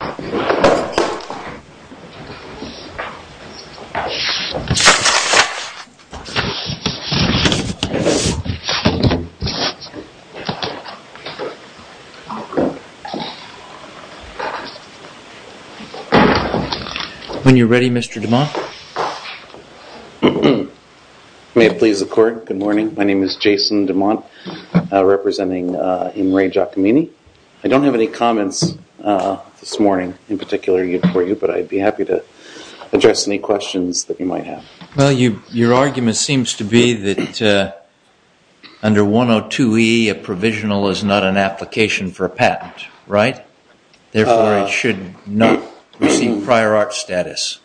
May it please the court, good morning. My name is Jason DeMont representing In Re Giacomini. I don't have any comments this morning in particular for you, but I'd be happy to address any questions that you might have. Well, your argument seems to be that under 102E a provisional is not an application for a patent, right? Therefore, it should not receive prior art status.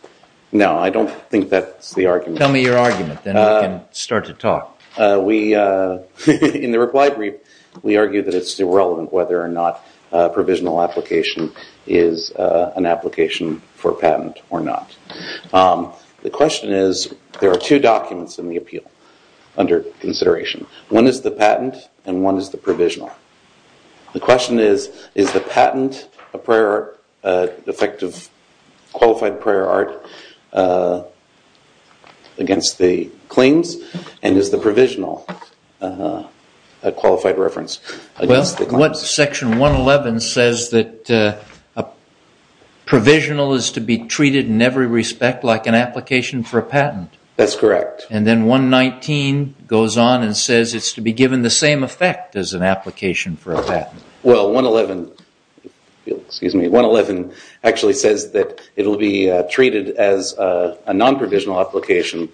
No, I don't think that's the argument. Tell me your argument, then we can start to talk. In the reply brief, we argue that it's irrelevant whether or not a provisional application is an application for a patent or not. The question is, there are two documents in the appeal under consideration. One is the patent and one is the provisional. The question is, is the patent a prior art, effective, qualified prior art against the claims? And is the provisional a qualified reference? Well, section 111 says that a provisional is to be treated in every respect like an application for a patent. That's correct. And then 119 goes on and says it's to be given the same effect as an application for a patent. Well, 111 actually says that it will be treated as a non-provisional application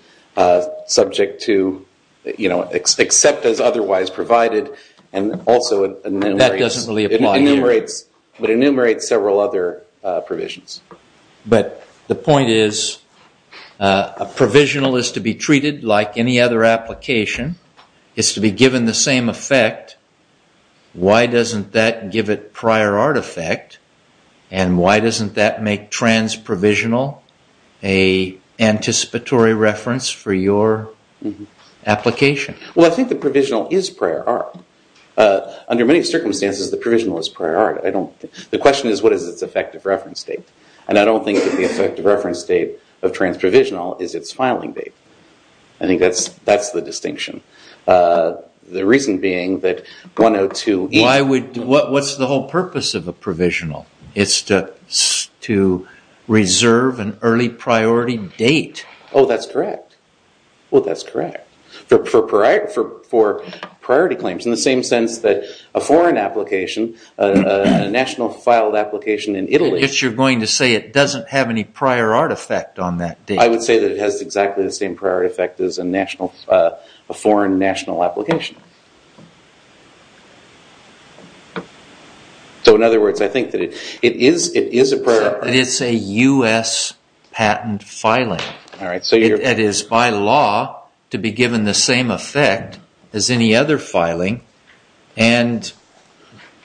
subject to except as otherwise provided and also enumerates several other provisions. But the point is, a provisional is to be treated like any other application. It's to be given the same effect. Why doesn't that give it prior art effect? And why doesn't that make trans-provisional an anticipatory reference for your application? Well, I think the provisional is prior art. Under many circumstances, the provisional is prior art. The question is, what is its effective reference date? And I don't think that the effective reference date of trans-provisional is its filing date. I think that's the distinction. The reason being that 102- What's the whole purpose of a provisional? It's to reserve an early priority date. Oh, that's correct. Well, that's correct. For priority claims. In the same sense that a foreign application, a national filed application in Italy- If you're going to say it doesn't have any prior art effect on that date. I would say that it has exactly the same prior art effect as a foreign national application. So in other words, I think that it is a prior- It's a U.S. patent filing. It is by law to be given the same effect as any other filing. And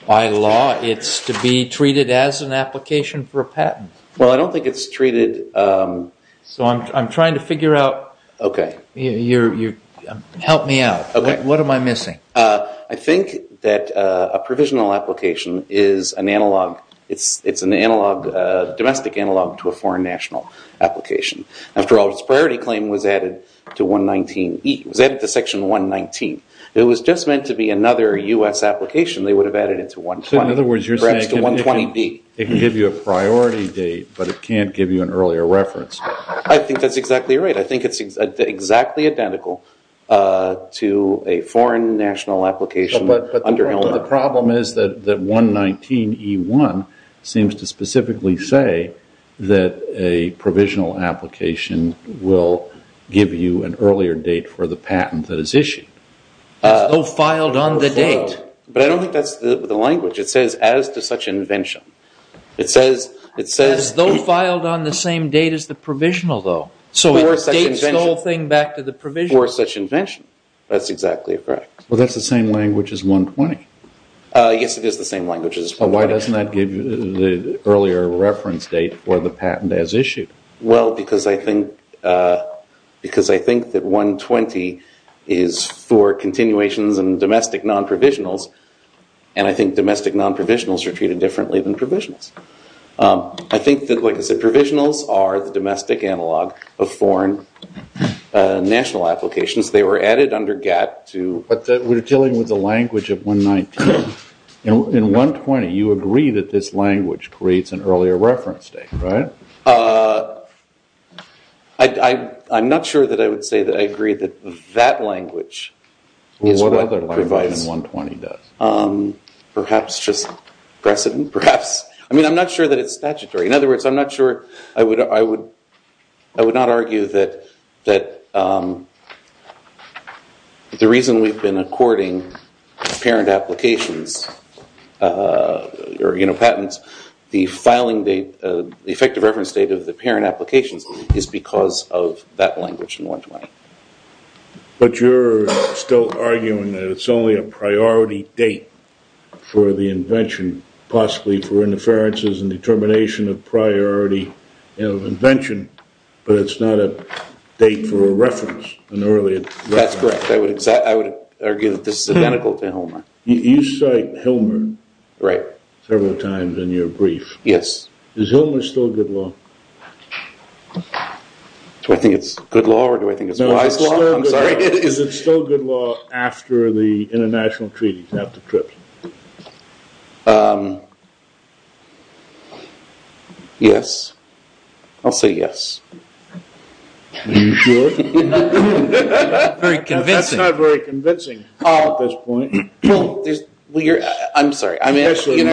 by law, it's to be treated as an application for a patent. Well, I don't think it's treated- So I'm trying to figure out- Help me out. What am I missing? I think that a provisional application is an analog- After all, its priority claim was added to 119E. It was added to section 119. It was just meant to be another U.S. application. They would have added it to 120B. So in other words, you're saying it can give you a priority date, but it can't give you an earlier reference. I think that's exactly right. I think it's exactly identical to a foreign national application- But the problem is that 119E1 seems to specifically say that a provisional application will give you an earlier date for the patent that is issued. As though filed on the date. But I don't think that's the language. It says, as to such invention. It says- As though filed on the same date as the provisional, though. So it dates the whole thing back to the provisional. For such invention. That's exactly correct. Well, that's the same language as 120. Yes, it is the same language as 120. But why doesn't that give you the earlier reference date for the patent as issued? Well, because I think that 120 is for continuations and domestic non-provisionals. And I think domestic non-provisionals are treated differently than provisionals. I think that, like I said, provisionals are the domestic analog of foreign national applications. They were added under GATT to- But we're dealing with the language of 119. In 120, you agree that this language creates an earlier reference date, right? I'm not sure that I would say that I agree that that language is what provides- What other language than 120 does? Perhaps just precedent. Perhaps. I mean, I'm not sure that it's statutory. In other words, I'm not sure- I would not argue that the reason we've been according parent applications or patents, the filing date, the effective reference date of the parent applications is because of that language in 120. But you're still arguing that it's only a priority date for the invention, possibly for interferences and determination of priority of invention, but it's not a date for a reference, an earlier reference. That's correct. I would argue that this is identical to Hilmer. You cite Hilmer several times in your brief. Yes. Is Hilmer still good law? Do I think it's good law or do I think it's wise law? No, it's still good law. I'm sorry. Yes. I'll say yes. Are you sure? Very convincing. That's not very convincing at this point. I'm sorry. Are you asking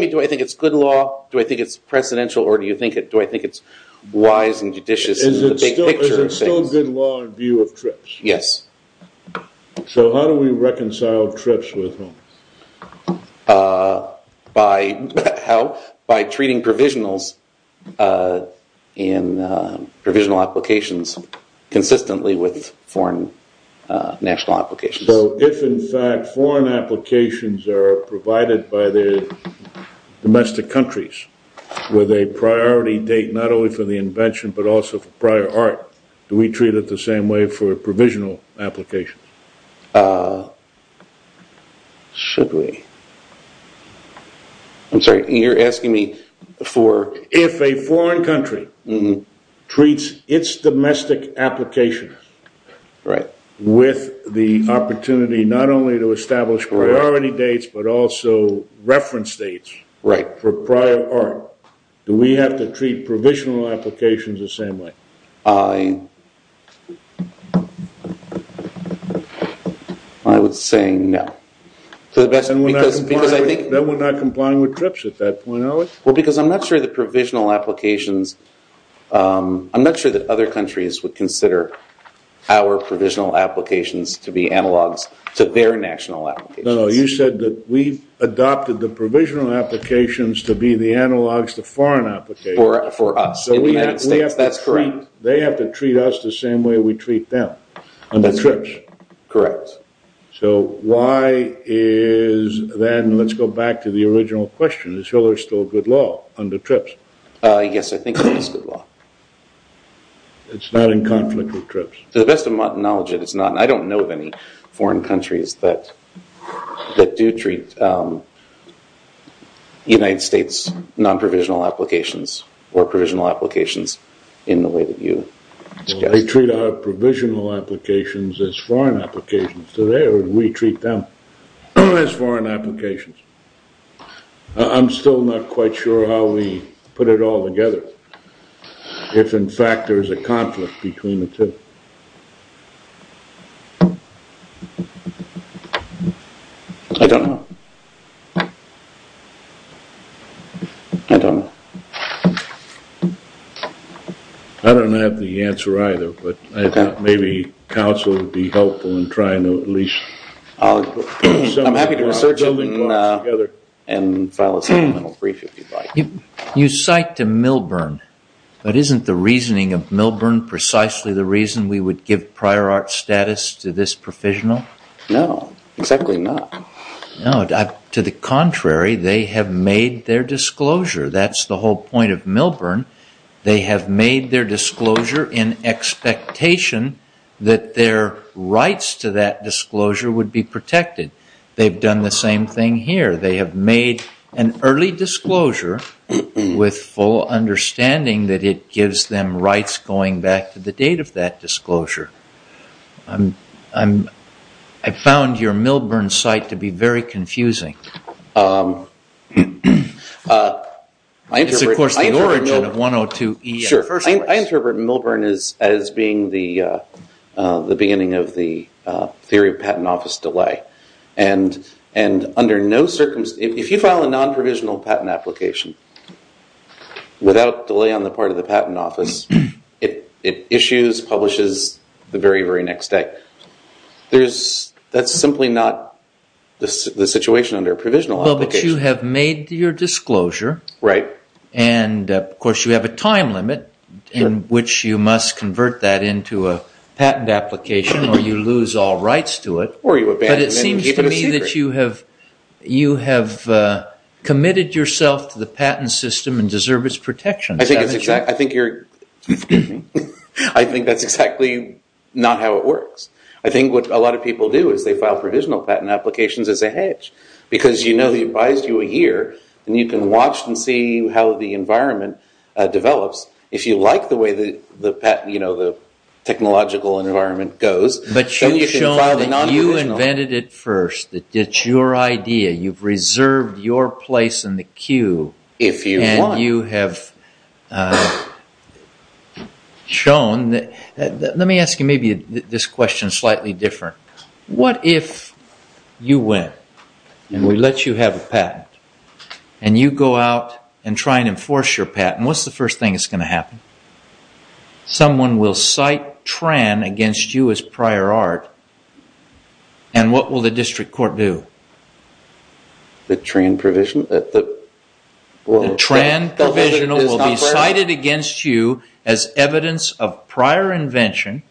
me do I think it's good law, do I think it's precedential, or do I think it's wise and judicious in the big picture? Is it still good law in view of TRIPS? Yes. So how do we reconcile TRIPS with Hilmer? By treating provisionals in provisional applications consistently with foreign national applications. So if in fact foreign applications are provided by the domestic countries with a priority date not only for the invention but also for prior art, do we treat it the same way for provisional applications? Should we? I'm sorry, you're asking me for... If a foreign country treats its domestic applications with the opportunity not only to establish priority dates but also reference dates for prior art, do we have to treat provisional applications the same way? I would say no. Then we're not complying with TRIPS at that point, are we? Well, because I'm not sure the provisional applications... I'm not sure that other countries would consider our provisional applications to be analogs to their national applications. No, no. You said that we've adopted the provisional applications to be the analogs to foreign applications. For us. In the United States, that's correct. So we have to treat... They have to treat us the same way we treat them under TRIPS. Correct. So why is... Then let's go back to the original question. Is Hillary still good law under TRIPS? Yes, I think it is good law. It's not in conflict with TRIPS? To the best of my knowledge, it is not. I don't know of any foreign countries that do treat United States non-provisional applications or provisional applications in the way that you... They treat our provisional applications as foreign applications today, or do we treat them as foreign applications? I'm still not quite sure how we put it all together. If, in fact, there is a conflict between the two. I don't know. I don't have the answer either, but I thought maybe counsel would be helpful in trying to at least... I'm happy to research it and file a supplemental brief if you'd like. You cite to Milburn, but isn't the reasoning of Milburn precisely the reason we would give prior art status to this provisional? No, exactly not. No, to the contrary, they have made their disclosure. That's the whole point of Milburn. They have made their disclosure in expectation that their rights to that disclosure would be protected. They've done the same thing here. They have made an early disclosure with full understanding that it gives them rights going back to the date of that disclosure. I found your Milburn site to be very confusing. It's, of course, the origin of 102EA. Sure. I interpret Milburn as being the beginning of the theory of patent office delay. If you file a non-provisional patent application without delay on the part of the patent office, it issues, publishes the very, very next day. That's simply not the situation under a provisional application. But you have made your disclosure. Right. Of course, you have a time limit in which you must convert that into a patent application or you lose all rights to it. Or you abandon it and keep it a secret. It seems to me that you have committed yourself to the patent system and deserve its protection. I think that's exactly not how it works. I think what a lot of people do is they file provisional patent applications as a hedge. Because you know they advised you a year and you can watch and see how the environment develops. If you like the way the technological environment goes, then you can file a non-provisional. But you've shown that you invented it first. It's your idea. You've reserved your place in the queue. If you want. And you have shown. Let me ask you maybe this question slightly different. What if you win and we let you have a patent and you go out and try and enforce your patent? What's the first thing that's going to happen? Someone will cite TRAN against you as prior art. And what will the district court do? The TRAN provision? The TRAN provisional will be cited against you as evidence of prior invention,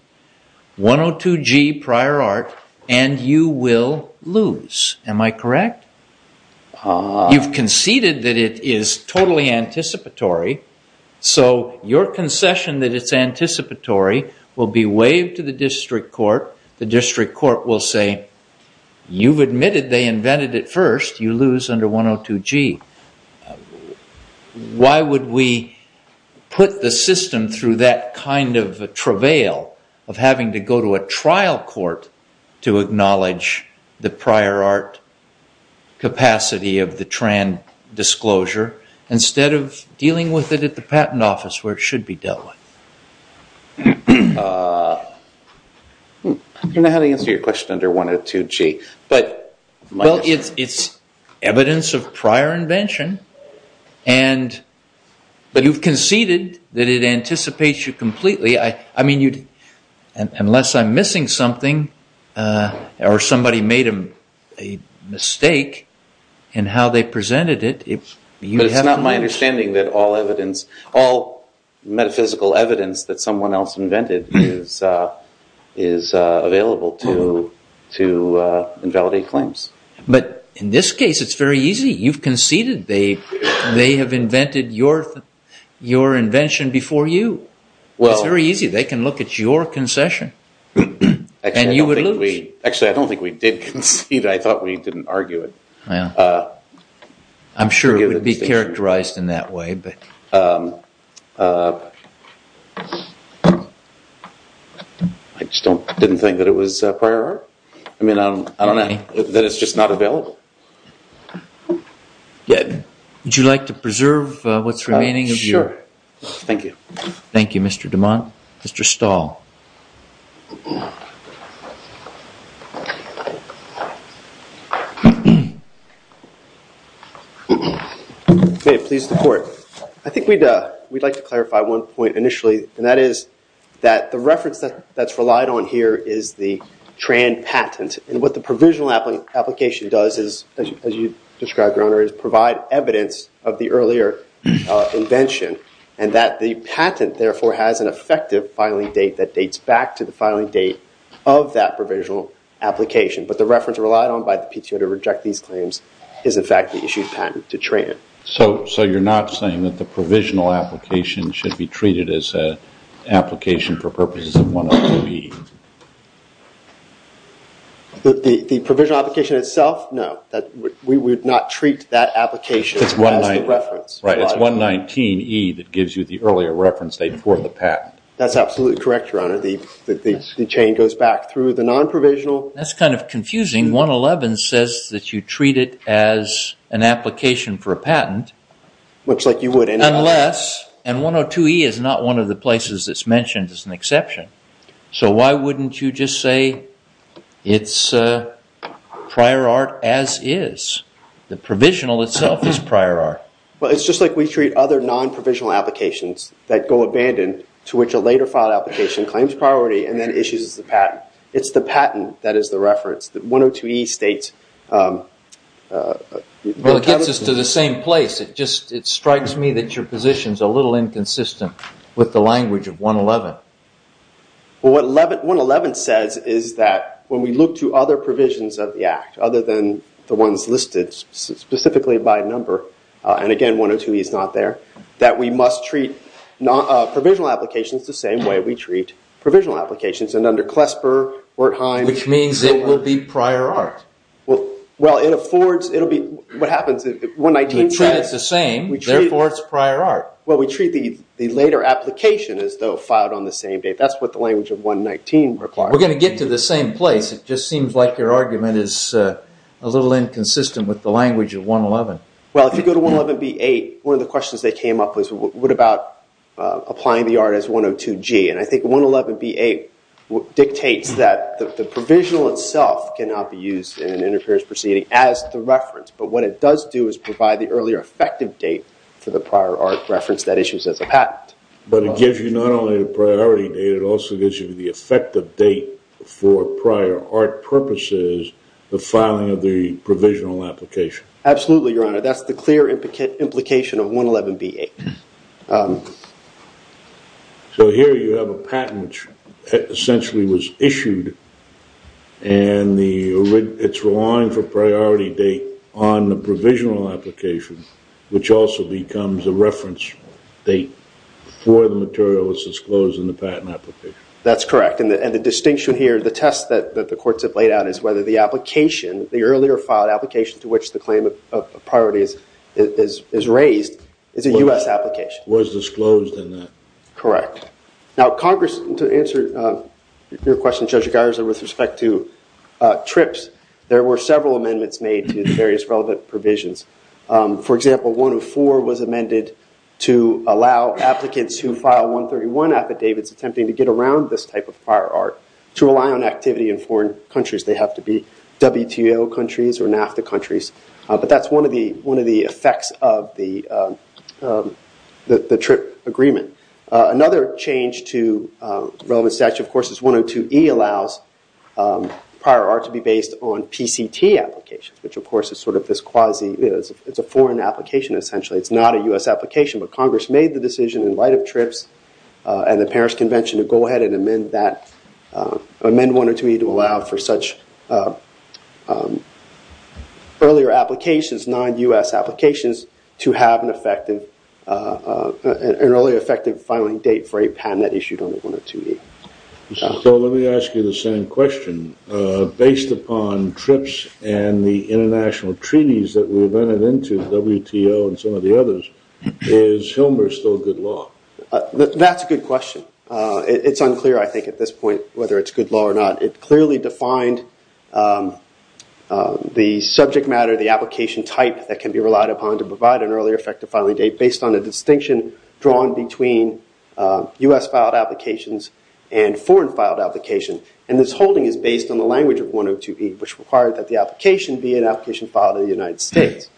102G prior art, and you will lose. Am I correct? You've conceded that it is totally anticipatory. So your concession that it's anticipatory will be waived to the district court. The district court will say, you've admitted they invented it first. You lose under 102G. Why would we put the system through that kind of travail of having to go to a trial court to acknowledge the prior art capacity of the TRAN disclosure instead of dealing with it at the patent office where it should be dealt with? I don't know how to answer your question under 102G. It's evidence of prior invention. But you've conceded that it anticipates you completely. Unless I'm missing something or somebody made a mistake in how they presented it. But it's not my understanding that all metaphysical evidence that someone else invented is available to invalidate claims. But in this case, it's very easy. You've conceded they have invented your invention before you. It's very easy. They can look at your concession. And you would lose. Actually, I don't think we did concede. I thought we didn't argue it. I'm sure it would be characterized in that way. I just didn't think that it was prior art. I mean, I don't know. That it's just not available. Would you like to preserve what's remaining? Sure. Thank you. Thank you, Mr. DeMont. Mr. Stahl. May it please the court. I think we'd like to clarify one point initially. And that is that the reference that's relied on here is the Tran patent. And what the provisional application does is, as you described, Your Honor, is provide evidence of the earlier invention. And that the patent, therefore, has an effective filing date that dates back to the filing date of that provisional application. But the reference relied on by the PTO to reject these claims is, in fact, the issued patent to Tran. So you're not saying that the provisional application should be treated as an application for purposes of 111E? The provisional application itself? No. We would not treat that application as the reference. Right. It's 119E that gives you the earlier reference date for the patent. That's absolutely correct, Your Honor. The chain goes back through the non-provisional. That's kind of confusing. I mean, 111 says that you treat it as an application for a patent. Looks like you would. Unless, and 102E is not one of the places that's mentioned as an exception. So why wouldn't you just say it's prior art as is? The provisional itself is prior art. Well, it's just like we treat other non-provisional applications that go abandoned to which a later filed application claims priority and then issues the patent. It's the patent that is the reference that 102E states. Well, it gets us to the same place. It strikes me that your position is a little inconsistent with the language of 111. Well, what 111 says is that when we look to other provisions of the Act, other than the ones listed specifically by number, and again, 102E is not there, that we must treat provisional applications the same way we treat provisional applications. And under Klesper, Wertheim... Which means it will be prior art. Well, it affords, it will be, what happens, 119... We treat it the same, therefore it's prior art. Well, we treat the later application as though filed on the same date. That's what the language of 119 requires. We're going to get to the same place. It just seems like your argument is a little inconsistent with the language of 111. Well, if you go to 111B8, one of the questions that came up was what about applying the art as 102G? And I think 111B8 dictates that the provisional itself cannot be used in an interference proceeding as the reference, but what it does do is provide the earlier effective date for the prior art reference that issues as a patent. But it gives you not only the priority date, it also gives you the effective date for prior art purposes, the filing of the provisional application. Absolutely, Your Honor. That's the clear implication of 111B8. So here you have a patent which essentially was issued, and it's relying for priority date on the provisional application, which also becomes a reference date for the material that's disclosed in the patent application. That's correct, and the distinction here, the test that the courts have laid out, is whether the application, the earlier filed application to which the claim of priority is raised, is a U.S. application. Was disclosed in that. Correct. Now, Congress, to answer your question, Judge Garza, with respect to TRIPS, there were several amendments made to the various relevant provisions. For example, 104 was amended to allow applicants who file 131 affidavits attempting to get around this type of prior art to rely on activity in foreign countries. They have to be WTO countries or NAFTA countries. But that's one of the effects of the TRIP agreement. Another change to relevant statute, of course, is 102E allows prior art to be based on PCT applications, which of course is sort of this quasi, it's a foreign application essentially. It's not a U.S. application, but Congress made the decision in light of TRIPS and the Paris Convention to go ahead and amend that, amend 102E to allow for such earlier applications, non-U.S. applications to have an effective, an early effective filing date for a patent issued under 102E. So let me ask you the same question. Based upon TRIPS and the international treaties that we've entered into, WTO and some of the others, is Hilmer still good law? That's a good question. It's unclear, I think, at this point whether it's good law or not. It clearly defined the subject matter, the application type that can be relied upon to provide an earlier effective filing date based on a distinction drawn between U.S. filed applications and foreign filed applications. And this holding is based on the language of 102E, which required that the application be an application filed in the United States.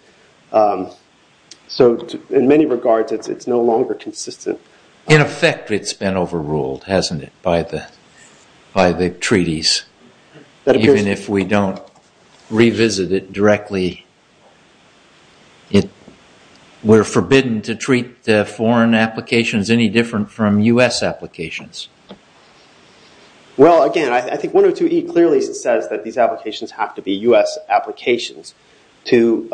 So in many regards, it's no longer consistent. In effect, it's been overruled, hasn't it, by the treaties? Even if we don't revisit it directly, we're forbidden to treat foreign applications any different from U.S. applications. Well, again, I think 102E clearly says that these applications have to be U.S. applications to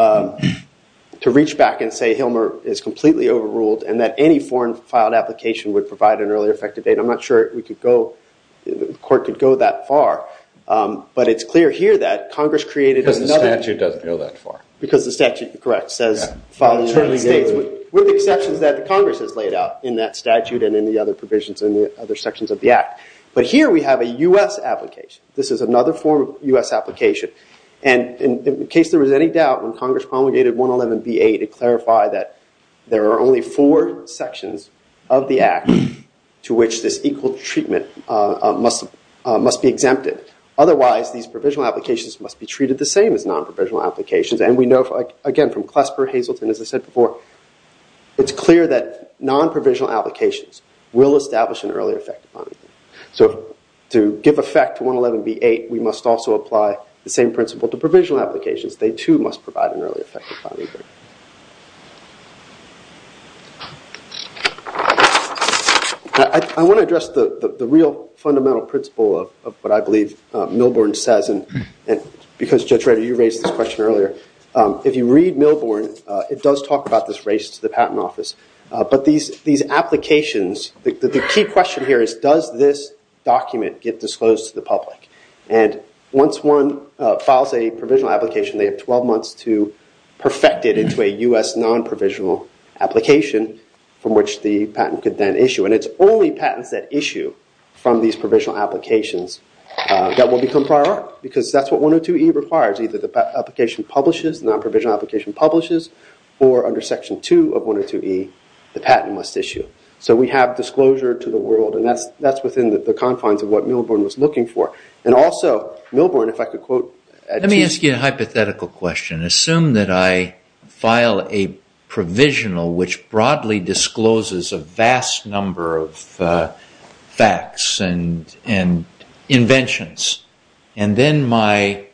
reach back and say Hilmer is completely overruled and that any foreign filed application would provide an earlier effective date. I'm not sure the court could go that far. But it's clear here that Congress created another... Because the statute doesn't go that far. Because the statute, correct, says filing in the United States. With the exceptions that Congress has laid out in that statute and in the other provisions in the other sections of the Act. But here we have a U.S. application. This is another form of U.S. application. And in case there was any doubt, when Congress promulgated 111B8, it clarified that there are only four sections of the Act to which this equal treatment must be exempted. Otherwise, these provisional applications must be treated the same as non-provisional applications. And we know, again, from Klesper, Hazelton, as I said before, it's clear that non-provisional applications will establish an earlier effective date. So to give effect to 111B8, we must also apply the same principle to provisional applications. They, too, must provide an earlier effective filing date. I want to address the real fundamental principle of what I believe Milborn says. And because, Judge Reiter, you raised this question earlier, if you read Milborn, it does talk about this race to the Patent Office. But these applications, the key question here is, does this document get disclosed to the public? And once one files a provisional application, they have 12 months to perfect it into a U.S. non-provisional application from which the patent could then issue. And it's only patents that issue from these provisional applications that will become prior art. Because that's what 102E requires. Either the application publishes, the non-provisional application publishes, or under Section 2 of 102E, the patent must issue. So we have disclosure to the world. And that's within the confines of what Milborn was looking for. And also, Milborn, if I could quote... Let me ask you a hypothetical question. Assume that I file a provisional which broadly discloses a vast number of facts and inventions. And then my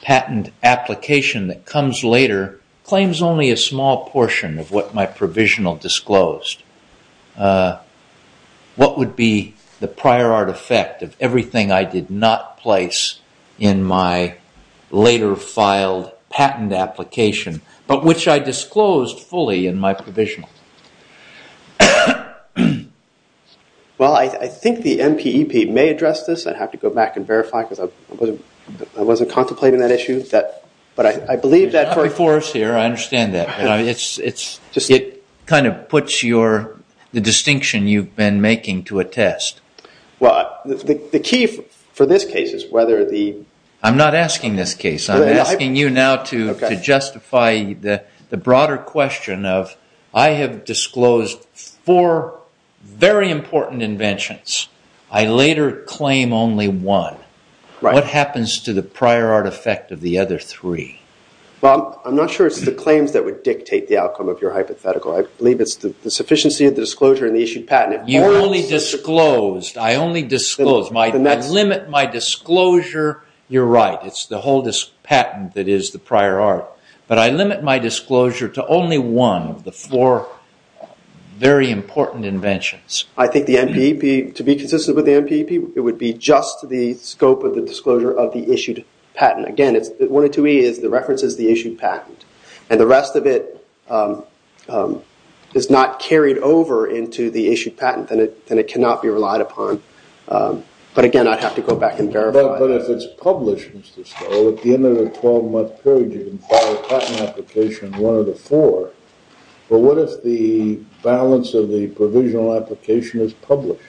patent application that comes later claims only a small portion of what my provisional disclosed. What would be the prior art effect of everything I did not place in my later filed patent application, but which I disclosed fully in my provisional? Well, I think the NPEP may address this. I'd have to go back and verify because I wasn't contemplating that issue. But I believe that for... It's not before us here. I understand that. It kind of puts the distinction you've been making to a test. Well, the key for this case is whether the... I'm not asking this case. I'm asking you now to justify the broader question of I have disclosed four very important inventions. I later claim only one. What happens to the prior art effect of the other three? Well, I'm not sure it's the claims that would dictate the outcome of your hypothetical. I believe it's the sufficiency of the disclosure and the issued patent. You only disclosed. I only disclosed. I limit my disclosure. You're right. It's the whole patent that is the prior art. But I limit my disclosure to only one of the four very important inventions. I think the NPEP, to be consistent with the NPEP, it would be just the scope of the disclosure of the issued patent. Again, it's... 102E is the reference is the issued patent. And the rest of it is not carried over into the issued patent. Then it cannot be relied upon. But, again, I'd have to go back and verify. But if it's published, Mr. Stoll, at the end of the 12-month period, you can file a patent application in one of the four. But what if the balance of the provisional application is published?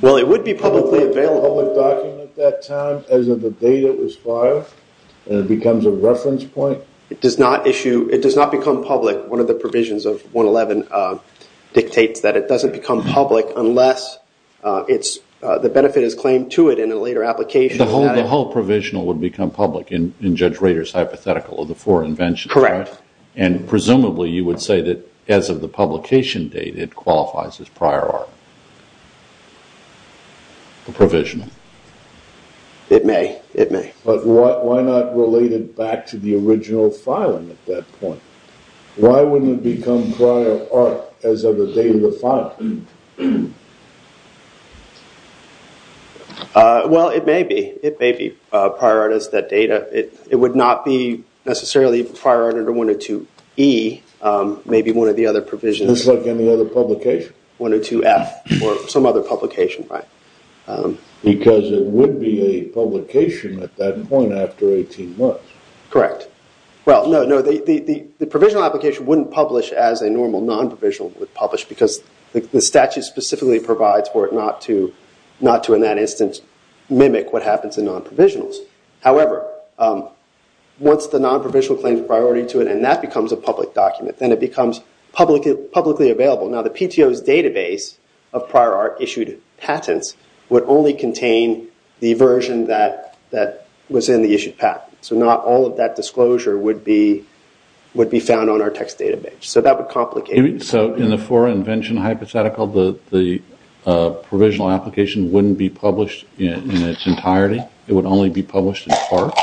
Well, it would be publicly available. Is it a public document at that time as of the date it was filed? And it becomes a reference point? It does not issue. It does not become public. One of the provisions of 111 dictates that it doesn't become public unless the benefit is claimed to it in a later application. The whole provisional would become public in Judge Rader's hypothetical of the four inventions? Correct. And presumably you would say that as of the publication date it qualifies as prior art? The provisional? It may. It may. But why not relate it back to the original filing at that point? Why wouldn't it become prior art as of the date of the filing? Well, it may be. It may be prior art as that date. It would not be necessarily prior art under 102E, maybe one of the other provisions. Just like any other publication. 102F or some other publication, right? Because it would be a publication at that point after 18 months. Correct. Well, no, the provisional application wouldn't publish as a normal non-provisional would publish because the statute specifically provides for it not to, in that instance, mimic what happens in non-provisionals. However, once the non-provisional claims priority to it and that becomes a public document, then it becomes publicly available. Now, the PTO's database of prior art issued patents would only contain the version that was in the issued patent. So not all of that disclosure would be found on our text database. So that would complicate it. So in the four invention hypothetical, the provisional application wouldn't be published in its entirety? It would only be published in part?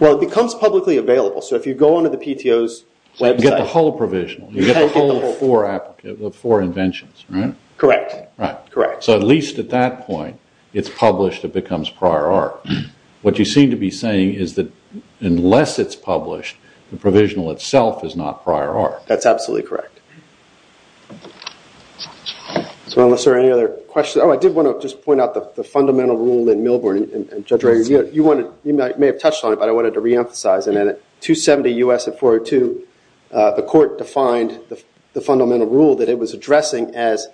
Well, it becomes publicly available. So if you go onto the PTO's website- You get the whole provisional. You get the whole four inventions, right? Correct. Right. Correct. So at least at that point, it's published, it becomes prior art. What you seem to be saying is that unless it's published, the provisional itself is not prior art. That's absolutely correct. So unless there are any other questions. Oh, I did want to just point out the fundamental rule in Millburn. Judge Rager, you may have touched on it, but I wanted to reemphasize it. And at 270 U.S. at 402, the court defined the fundamental rule that it was addressing as-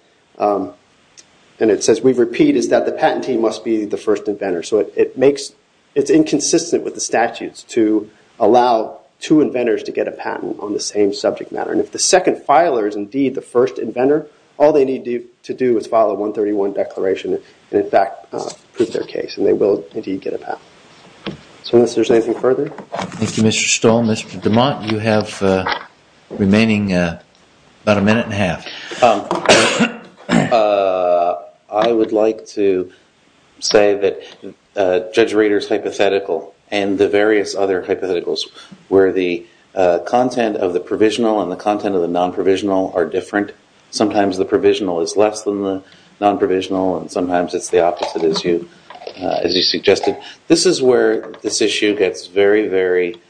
and it says, we repeat, is that the patentee must be the first inventor. So it's inconsistent with the statutes to allow two inventors to get a patent on the same subject matter. And if the second filer is indeed the first inventor, all they need to do is file a 131 declaration and, in fact, prove their case, and they will indeed get a patent. So unless there's anything further. Thank you, Mr. Stoll. Mr. DeMont, you have the remaining about a minute and a half. I would like to say that Judge Rader's hypothetical and the various other hypotheticals where the content of the provisional and the content of the non-provisional are different. Sometimes the provisional is less than the non-provisional, and sometimes it's the opposite, as you suggested. This is where this issue gets very, very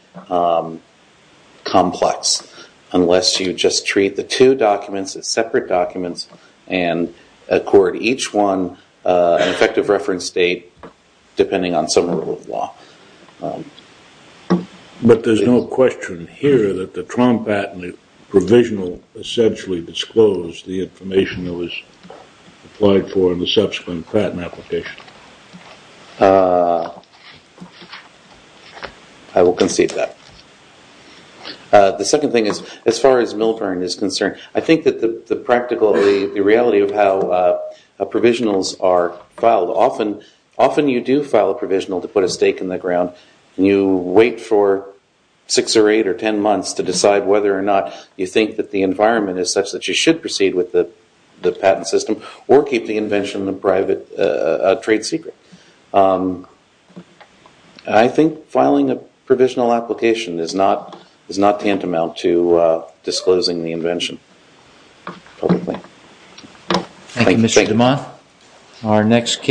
complex, unless you just treat the two documents as separate documents and accord each one an effective reference date, depending on some rule of law. But there's no question here that the Trump patent provisional essentially disclosed the information that was applied for in the subsequent patent application. So I will concede that. The second thing is, as far as Milburn is concerned, I think that the reality of how provisionals are filed, often you do file a provisional to put a stake in the ground, and you wait for six or eight or ten months to decide whether or not you think that the environment is such that you should proceed with the patent system or keep the invention a private trade secret. I think filing a provisional application is not tantamount to disclosing the invention publicly. Thank you, Mr. DeMont.